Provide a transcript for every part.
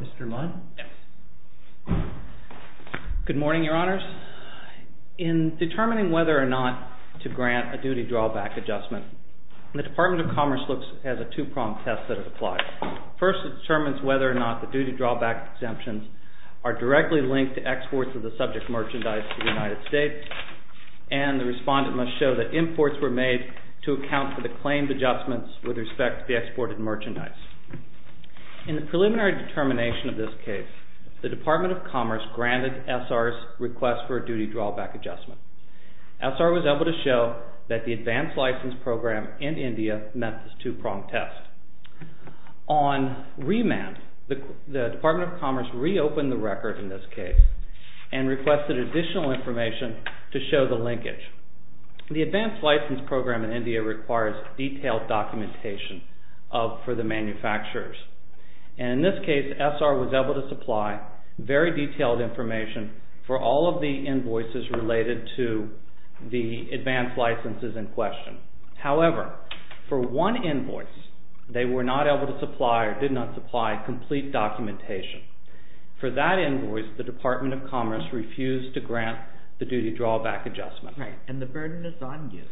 Mr. Mudd? Yes. Good morning, Your Honors. In determining whether or not to grant a duty drawback adjustment, the Department of Commerce looks at a two-pronged test that is applied. First it determines whether or not the duty drawback exemptions are directly linked to exports of the subject merchandise to the United States, and the respondent must show that imports were made to account for the claimed adjustments with respect to the exported merchandise. In the preliminary determination of this case, the Department of Commerce granted SR's request for a duty drawback adjustment. SR was able to show that the advanced license program in India met this two-pronged test. On remand, the Department of Commerce reopened the record in this case and requested additional information to show the linkage. The advanced license program in India requires detailed documentation for the manufacturers. In this case, SR was able to supply very detailed information for all of the invoices related to the advanced licenses in question. However, for one invoice, they were not able to supply complete documentation. For that invoice, the Department of Commerce refused to grant the duty drawback adjustment. And the burden is on you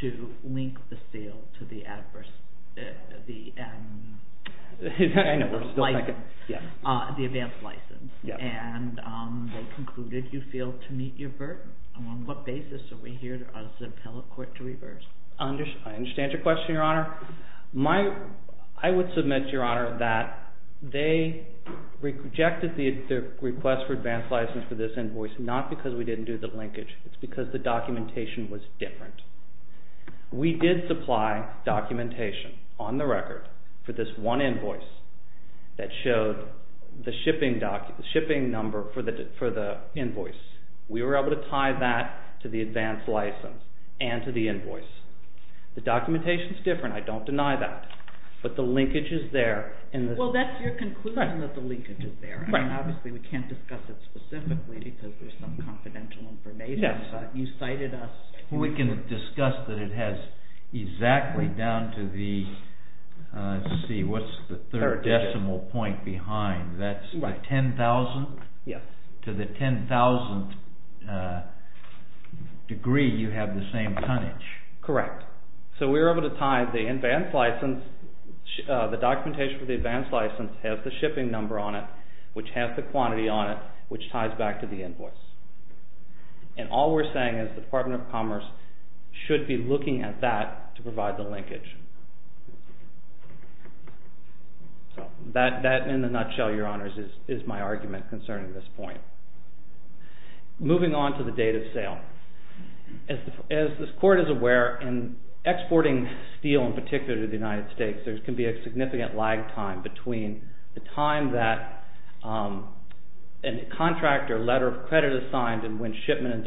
to link the seal to the advanced license, and they concluded you failed to meet your burden. On what basis are we here on the appellate court to reverse? I understand your question, Your Honor. I would submit, Your Honor, that they rejected the request for advanced license for this invoice not because we didn't do the linkage. It's because the documentation was different. We did supply documentation on the record for this one invoice that showed the shipping number for the invoice. We were able to tie that to the advanced license and to the invoice. The documentation is different. I don't deny that. But the linkage is there. Well, that's your conclusion that the linkage is there. Obviously, we can't discuss it specifically because there's some confidential information. Yes. You cited us. We can discuss that it has exactly down to the, let's see, what's the third decimal point behind? That's the 10,000th? Yes. To the 10,000th degree, you have the same tonnage. Correct. So we were able to tie the advanced license, the documentation for the advanced license has the shipping number on it, which has the quantity on it, which ties back to the invoice. And all we're saying is the Department of Commerce should be looking at that to provide the linkage. So that in a nutshell, your honors, is my argument concerning this point. Moving on to the date of sale. As this court is aware, in exporting steel in particular to the United States, there can be a significant lag time between the time that a contractor letter of credit is signed and when shipment and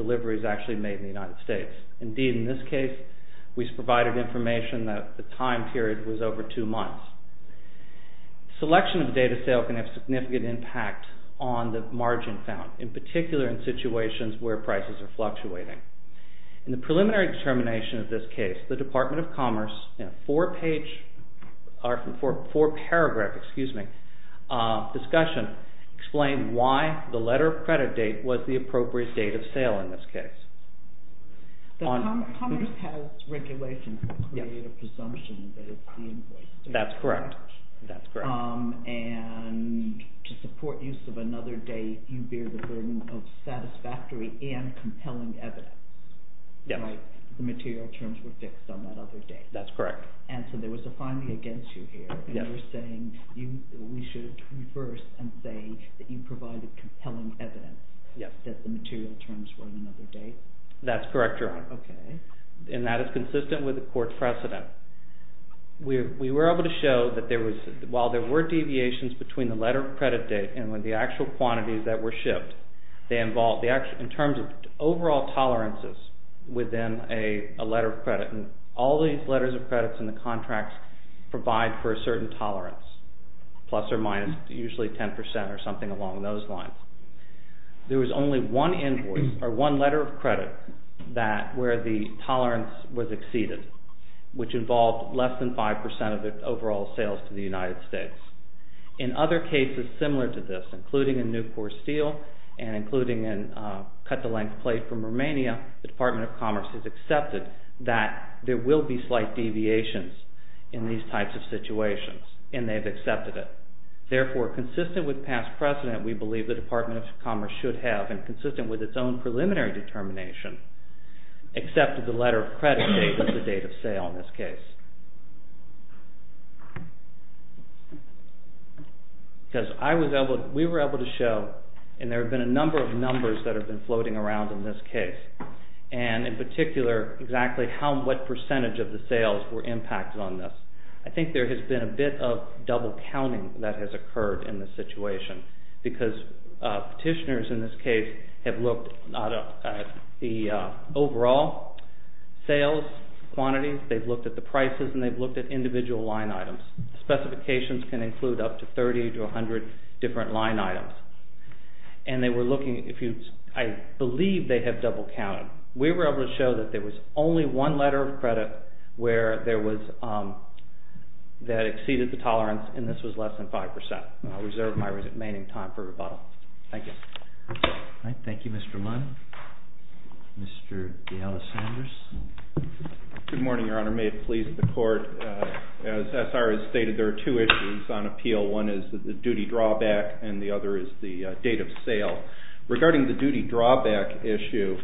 date. We've provided information that the time period was over two months. Selection of the date of sale can have significant impact on the margin found, in particular in situations where prices are fluctuating. In the preliminary determination of this case, the Department of Commerce, in a four-page, or four-paragraph, excuse me, discussion, explained why the letter of credit date was the appropriate date of sale in this case. The Commerce Health Regulation will create a presumption that it's the invoice date. That's correct. And to support use of another date, you bear the burden of satisfactory and compelling evidence. The material terms were fixed on that other date. That's correct. And so there was a finding against you here, saying we should reverse and say that you provided compelling evidence that the material terms were on another date? That's correct, Your Honor. And that is consistent with the court precedent. We were able to show that while there were deviations between the letter of credit date and the actual quantities that were shipped, in terms of overall tolerances within a letter of credit, and all these letters of credits in the contracts provide for a certain tolerance, plus or minus usually 10% or something along those lines. There was only one invoice, or one letter of credit, where the tolerance was exceeded, which involved less than 5% of the overall sales to the United States. In other cases similar to this, including in Newport Steel, and including in Cut the Length of Plate from Romania, the Department of Commerce has accepted that there will be slight deviations in these types of situations, and they've accepted it. Therefore, consistent with past precedent, we believe the Department of Commerce should have, and consistent with its own preliminary determination, accepted the letter of credit date as the date of sale in this case. Because we were able to show, and there have been a number of numbers that have been floating around in this case, and in particular exactly what percentage of the sales were impacted on this. I think there has been a bit of double counting that has occurred in this situation, because petitioners in this case have looked at the overall sales quantities, they've looked at the prices, and they've looked at individual line items. Specifications can include up to 30 to 100 different line items. And they were looking, I believe they have double counted. We were able to show that there was only one letter of credit where there was, that exceeded the tolerance, and this was less than 5%. I reserve my remaining time for rebuttal. Thank you. Thank you, Mr. Munn. Mr. D'Alessandris. Good morning, Your Honor. May it please the Court. As S.R. has stated, there are two issues on appeal. One is the duty drawback, and the other is the date of sale. Regarding the duty drawback issue,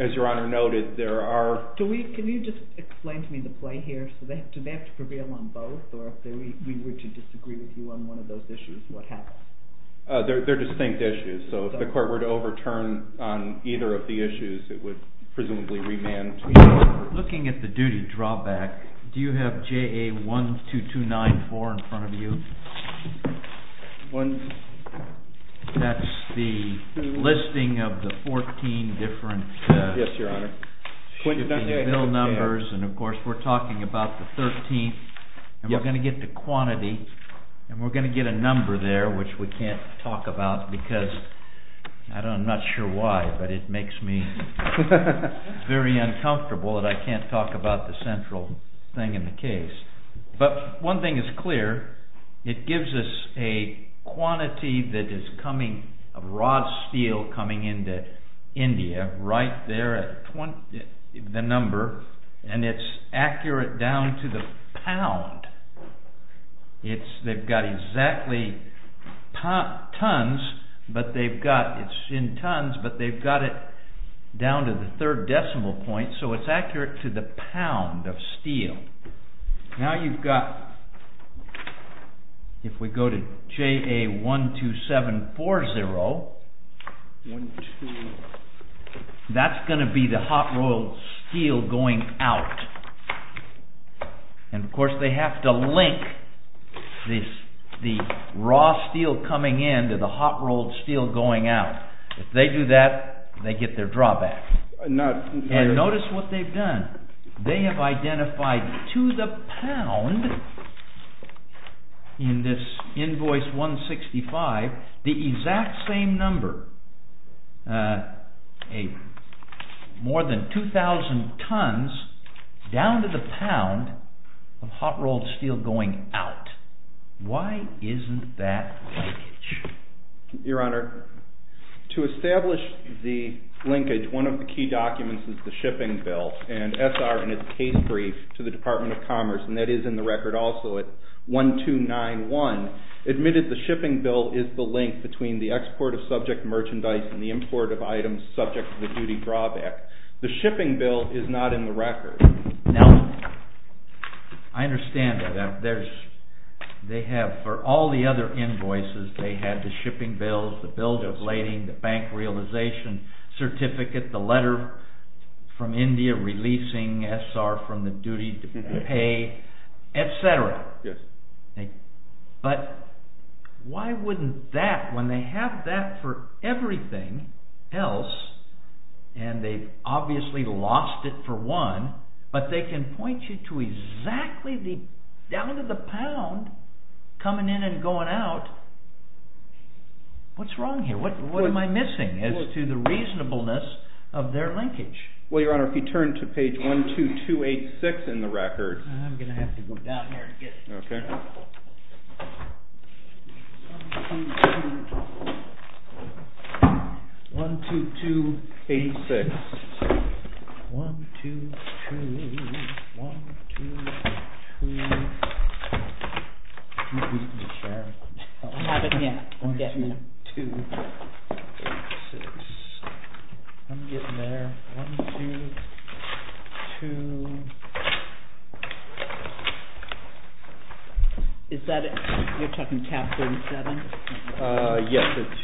as Your Honor noted, there are... Can you just explain to me the play here? Do they have to prevail on both, or if we were to disagree with you on one of those issues, what happens? They're distinct issues, so if the Court were to overturn on either of the issues, it would presumably remand... Looking at the duty drawback, do you have JA 12294 in front of you? That's the listing of the 14 different shipping bill numbers, and of course we're talking about the 13th, and we're going to get the quantity, and we're going to get a number there, which we can't talk about because, I'm not sure why, but it makes me very uncomfortable that I can't talk about the central thing in the case. But one thing is clear, it gives us a quantity that is coming, of raw steel coming into India, right there at the number, and it's accurate down to the pound. They've got exactly tons, but they've got it down to the third decimal point, so it's accurate to the pound of steel. Now you've got, if we go to JA 12740, that's going to be the hot-rolled steel going out, and of course they have to link the raw steel coming in to the hot-rolled steel going out. If they do that, they get their drawback. And notice what they've done, they have identified to the pound, in this invoice 165, the exact same number, more than 2000 tons down to the pound. Now, to establish the linkage, one of the key documents is the shipping bill, and SR in its case brief to the Department of Commerce, and that is in the record also at 1291, admitted the shipping bill is the link between the export of subject merchandise and the import of items subject to the duty drawback. The shipping bill is not in the record. Now, I understand that they have, for all the other invoices, they have the authorization certificate, the letter from India releasing SR from the duty to pay, etc. But, why wouldn't that, when they have that for everything else, and they've obviously lost it for one, but they can point you to exactly the, down to the pound, coming in and going out, what's wrong here? What am I missing as to the reasonableness of their linkage? Well, Your Honor, if you turn to page 12286 in the record. I'm going to have it here. 12286. I'm getting there. 12286. Is that it? You're talking tab 37? Yes, it's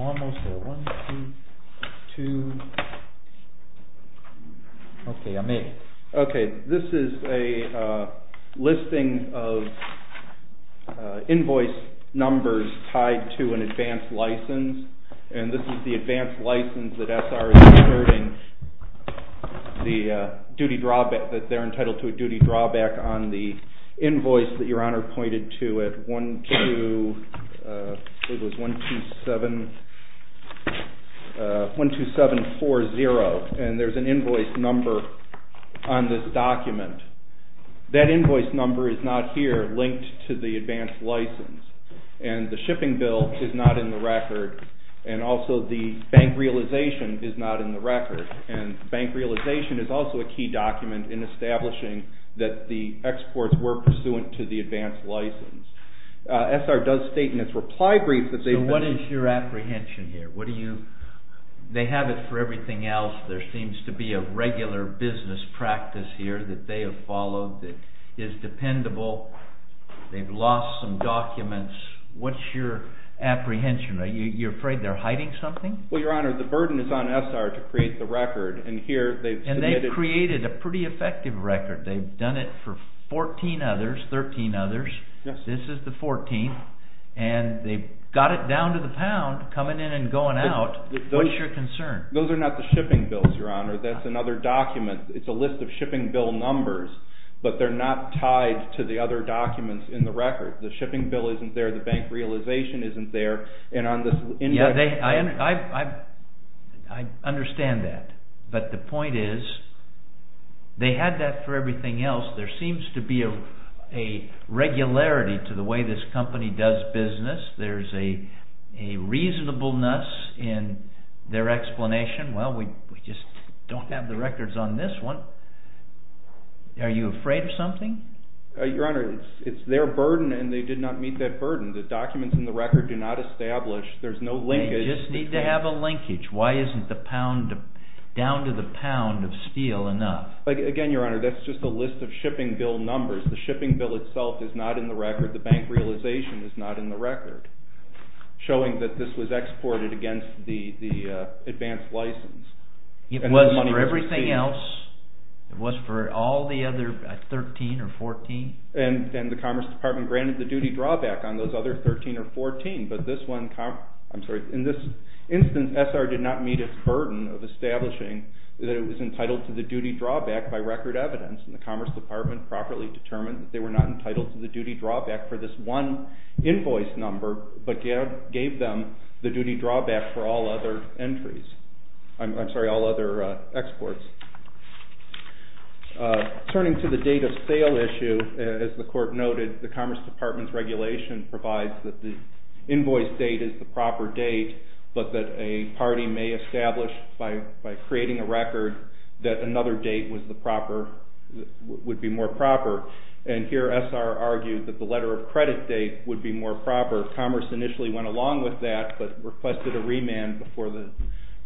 almost there. 1, 2, 2. Okay, I made it. Okay, this is a listing of invoice numbers tied to an advanced license, and this is the advanced license that SR is inheriting, the duty drawback, that they're entitled to a duty drawback on the invoice that Your Honor pointed to at 12740, and there's an invoice number on this document. That invoice number is not here linked to the advanced license, and the shipping bill is not in the record, and also the bank realization is not in the record, and bank realization is also a key document in establishing that the exports were pursuant to the advanced license. SR does state in its reply brief that they've been... So what is your apprehension here? They have it for everything else. There seems to be a regular business practice here that they have followed that is dependable. They've lost some documents. What's your apprehension? Are you afraid they're hiding something? Well, Your Honor, the burden is on SR to create the record, and here they've submitted... And they've created a pretty effective record. They've done it for 14 others, 13 others. This is the 14th, and they've got it down to the pound, coming in and going out. What's your concern? Those are not the shipping bills, Your Honor. That's another document. It's a list of shipping bill numbers, but they're not tied to the other documents in the record. The shipping bill isn't there. The bank realization isn't there, and on this the point is they had that for everything else. There seems to be a regularity to the way this company does business. There's a reasonableness in their explanation. Well, we just don't have the records on this one. Are you afraid of something? Your Honor, it's their burden, and they did not meet that burden. The documents in the record do not establish. There's no linkage. You just need to have a linkage. Why isn't the pound down to the pound of steel enough? Again, Your Honor, that's just a list of shipping bill numbers. The shipping bill itself is not in the record. The bank realization is not in the record, showing that this was exported against the advanced license. It wasn't for everything else. It was for all the other 13 or 14. And the Commerce Department granted the duty drawback on those other 13 or 14, but in this instance, SR did not meet its burden of establishing that it was entitled to the duty drawback by record evidence, and the Commerce Department properly determined that they were not entitled to the duty drawback for this one invoice number, but gave them the duty drawback for all other exports. Turning to the date of sale issue, as the Court noted, the Commerce Department's regulation provides that the invoice date is the proper date, but that a party may establish by creating a record that another date would be more proper, and here SR argued that the letter of credit date would be more proper. Commerce initially went along with that, but requested a remand before the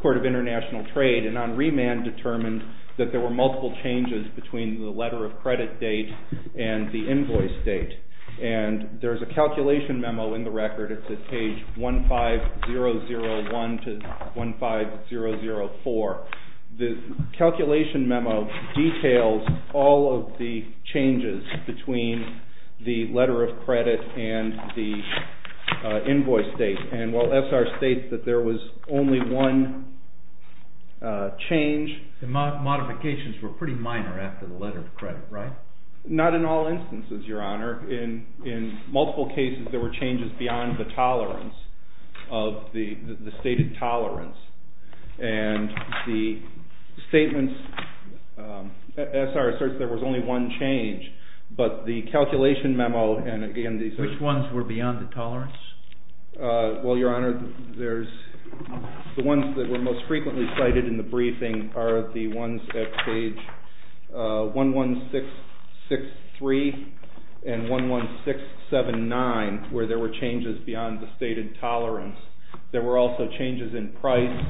Court of International Trade, and on remand determined that there were multiple changes between the letter of credit date and the invoice date, and there's a calculation memo in the record. It's at page 15001 to 15004. The calculation memo details all of the changes between the letter of credit and the invoice date, and while SR states that there was only one change... The modifications were pretty minor after the letter of credit, right? Not in all instances, Your Honor. In multiple cases, there were changes beyond the tolerance of the stated tolerance, and the statements... SR asserts there was only one change, but the calculation memo, and again... Which ones were beyond the tolerance? Well, Your Honor, the ones that were most frequently cited in the briefing are the ones at page 11663 and 11679, where there were changes beyond the stated tolerance. There were also changes in price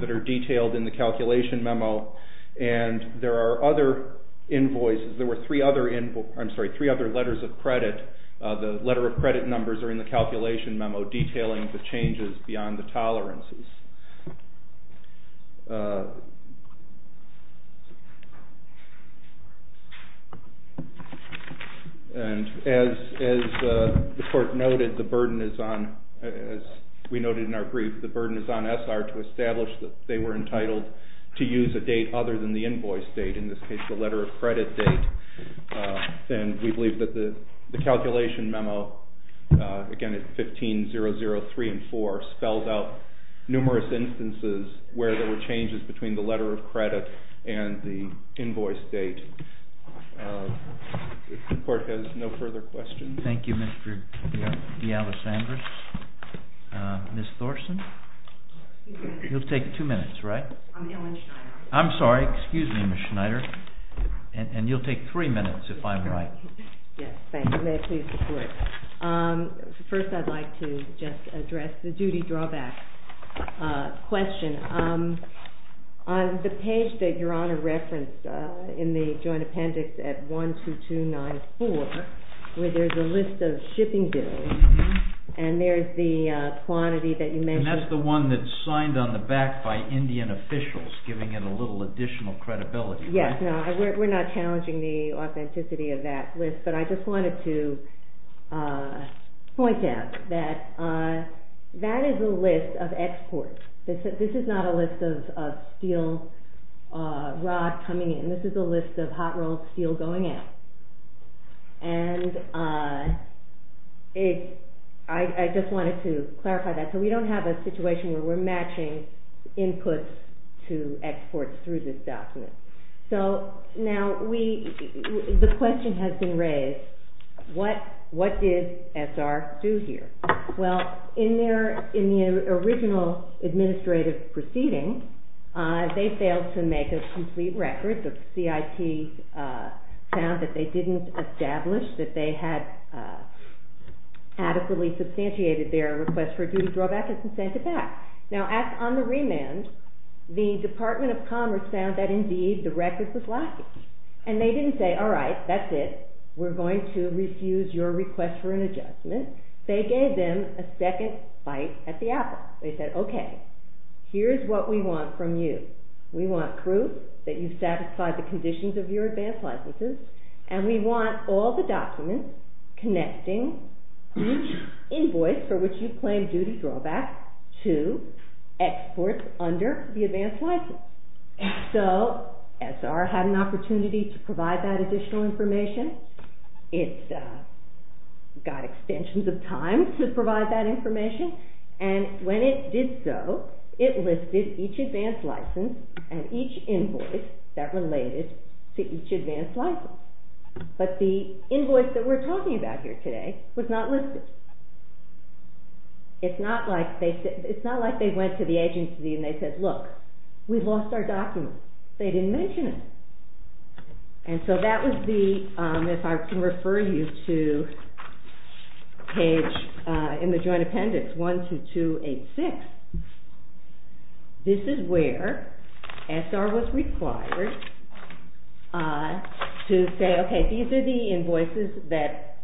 that are detailed in the calculation memo, and there are other invoices. There were three other letters of credit. The letter of credit numbers are in the calculation memo detailing the changes beyond the tolerances. And as the court noted, the burden is on... As we noted in our brief, the burden is on SR to establish that they were entitled to use a date other than the invoice date, in the letter of credit date, and we believe that the calculation memo, again at 15003 and 4, spells out numerous instances where there were changes between the letter of credit and the invoice date. The court has no further questions. Thank you, Mr. D'Alessandro. Ms. Thorsen? You'll take two minutes, right? I'm Ellen Schneider. I'm sorry. Excuse me, Ms. Schneider. And you'll take three minutes if I'm right. Yes, thank you. May I please report? First, I'd like to just address the duty drawback question. On the page that Your Honor referenced in the joint appendix at 12294, where there is a list of shipping bills, and there is the quantity that you mentioned... Yes, we're not challenging the authenticity of that list, but I just wanted to point out that that is a list of exports. This is not a list of steel rod coming in. This is a list of hot-rolled steel going out. And I just wanted to clarify that. So we don't have a requirement to export through this document. Now, the question has been raised, what did SR do here? Well, in the original administrative proceeding, they failed to make a complete record. The CIT found that they didn't establish that they had adequately substantiated their request for a duty drawback and sent it back. Now, on the remand, the Department of Commerce found that, indeed, the record was lacking. And they didn't say, all right, that's it. We're going to refuse your request for an adjustment. They gave them a second bite at the apple. They said, okay, here's what we want from you. We want proof that you've satisfied the conditions of your advance licenses, and we want all the documents connecting each claim duty drawback to exports under the advance license. So SR had an opportunity to provide that additional information. It got extensions of time to provide that information. And when it did so, it listed each advance license and each invoice that related to each advance license. It's not like they went to the agency and they said, look, we've lost our documents. They didn't mention it. And so that was the, if I can refer you to page in the joint appendix, 12286. This is where SR was required to say, okay, these are the particular invoices that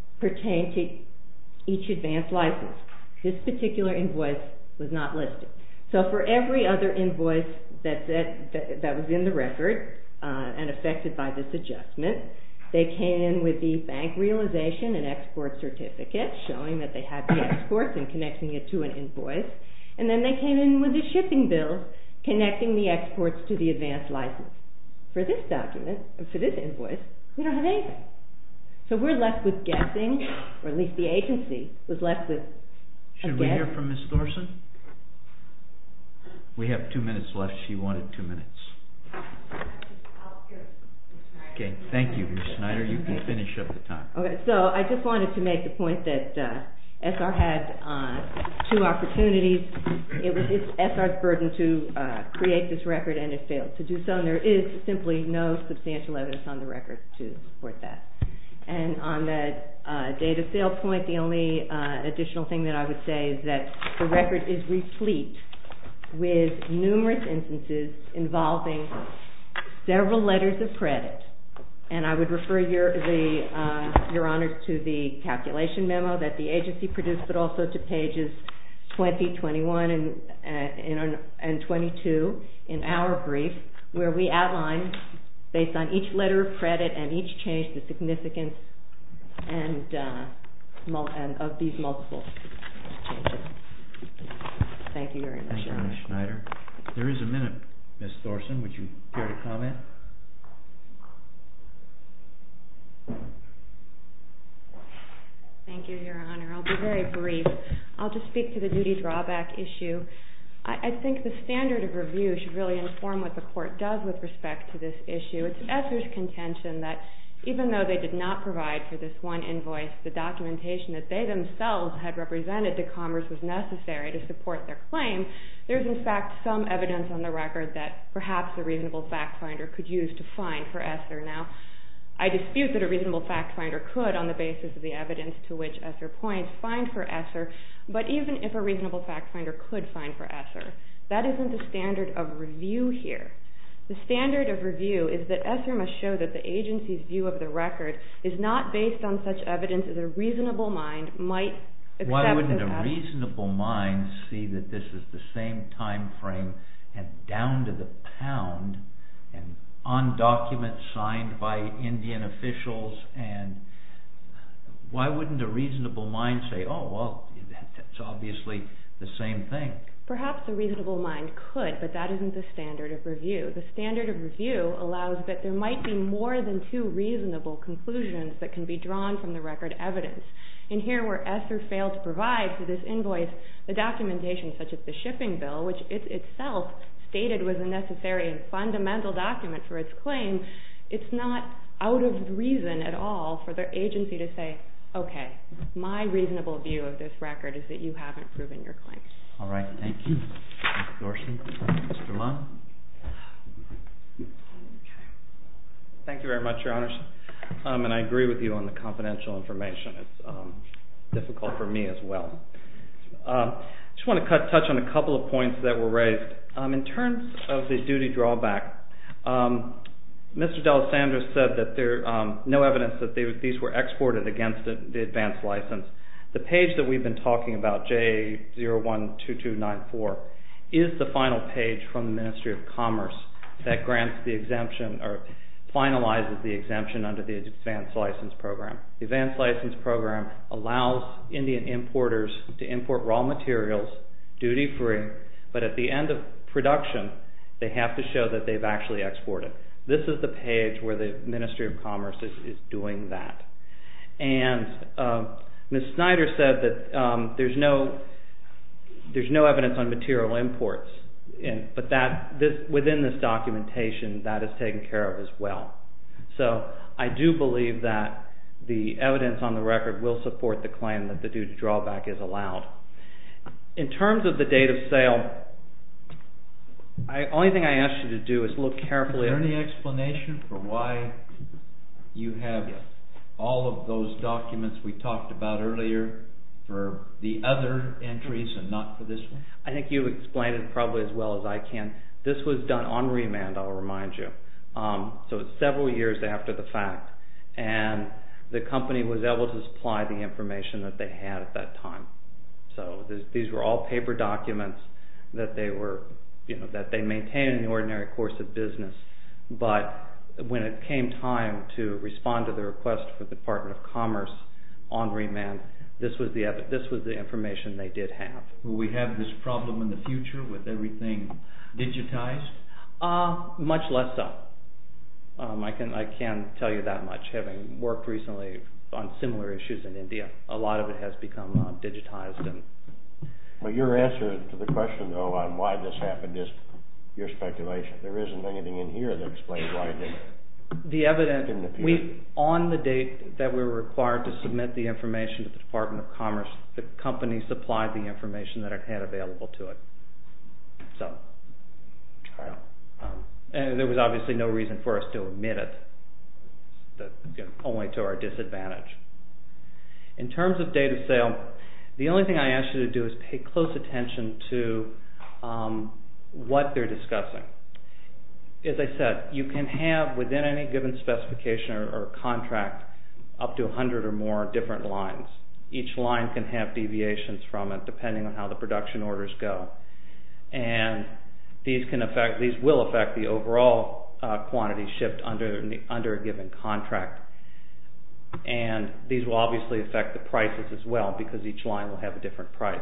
were not listed. So for every other invoice that was in the record and affected by this adjustment, they came in with the bank realization and export certificate showing that they had the exports and connecting it to an invoice. And then they came in with the shipping bill connecting the exports to the advance license. For this document, for this invoice, we don't have anything. So we're left with guessing, or at least the agency was left with a guess. Should we hear from Ms. Thorsen? We have two minutes left. She wanted two minutes. Okay. Thank you, Ms. Snyder. You can finish up the time. Okay. So I just wanted to make the point that SR had two opportunities. It was SR's burden to create this record and it failed to do so. And there is simply no substantial evidence on the record to support that. And on the date of sale point, the only additional thing that I would say is that the record is replete with numerous instances involving several letters of credit. And I would refer your honors to the calculation memo that the agency produced, but also to pages 20, 21, and 22 in our brief, where we outline, based on each letter of credit and each change, the significance of these multiple changes. Thank you very much. Thank you, Ms. Snyder. There is a minute, Ms. Thorsen. Would you care to comment? Thank you, Your Honor. I'll be very brief. I'll just speak to the duty drawback issue. I think the standard of review should really inform what the court does with respect to this issue. It's SR's contention that even though they did not provide for this one invoice, the documentation that they themselves had represented to Commerce was necessary to support their claim. There's, in fact, some evidence on the record that perhaps a reasonable fact finder could use to find for SR. Now, I dispute that a reasonable fact finder could, on the basis of the evidence to which SR points, find for SR. But even if a reasonable fact finder could find for SR, that isn't the standard of review here. The standard of review is that SR must show that the agency's view of the record is not based on such evidence as a reasonable mind might accept as evidence. Why wouldn't a reasonable mind see that this is the same time frame and down to the pound and on documents signed by Indian officials? Why wouldn't a reasonable mind say, oh, well, that's obviously the same thing? Perhaps a reasonable mind could, but that isn't the standard of review. The standard of review allows that there might be more than two reasonable conclusions that can be drawn from the record evidence. In here, where SR failed to provide for this invoice, the documentation, such as the shipping bill, which it itself stated was a necessary and fundamental document for its claim, it's not out of reason at all for the agency to say, okay, my reasonable view of this record is that you haven't proven your claim. All right. Thank you. Mr. Larson. Mr. Lung. Thank you very much, Your Honors. And I agree with you on the confidential information. It's difficult for me as well. I just want to touch on a couple of points that were raised. In terms of the duty drawback, Mr. D'Alessandro said that there's no evidence that these were exported against the advance license. The page that we've been talking about, J012294, is the final page from the Ministry of Commerce that grants the exemption or finalizes the exemption under the advance license program. The advance license program allows Indian importers to import raw materials duty free, but at the end of production, they have to show that they've actually exported. This is the page where the Ministry of Commerce is doing that. And Ms. Snyder said that there's no evidence on material imports, but within this documentation, that is taken care of as well. So I do believe that the evidence on the record will support the claim that the duty drawback is allowed. In terms of the date of sale, the only thing I ask you to do is look carefully... Is there any explanation for why you have all of those documents we talked about earlier for the other entries and not for this one? I think you've explained it probably as well as I can. This was done on remand, I'll remind you. So it's several years after the fact, and the company was able to supply the information that they had at that time. So these were all paper documents that they maintained in the ordinary course of business, but when it came time to respond to the request for the Department of Commerce on remand, this was the information they did have. Will we have this problem in the future with everything digitized? Much less so. I can't tell you that much, having worked recently on similar issues in India. A lot of it has become digitized. But your answer to the question, though, on why this happened is your speculation. There isn't anything in here that explains why it didn't appear. The evidence, on the date that we were required to submit the information to the Department of Commerce, the company supplied the information that it had available to it. And there was obviously no reason for us to omit it, only to our disadvantage. In terms of date of sale, the only thing I ask you to do is pay close attention to what they're discussing. As I said, you can have, within any given specification or contract, up to 100 or more different lines. Each line can have deviations from it, and these will affect the overall quantity shipped under a given contract. And these will obviously affect the prices as well, because each line will have a different price.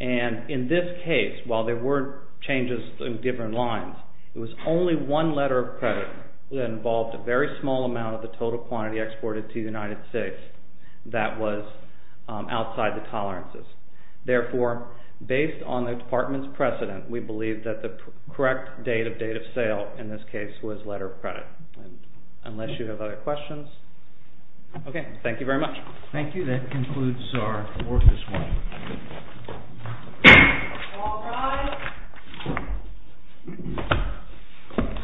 And in this case, while there were changes in different lines, it was only one letter of credit that involved a very small amount of the total quantity exported to the United States that was outside the tolerances. Therefore, based on the Department's precedent, we believe that the correct date of date of sale, in this case, was letter of credit. Unless you have other questions? Okay. Thank you very much. Thank you. That concludes our work this morning.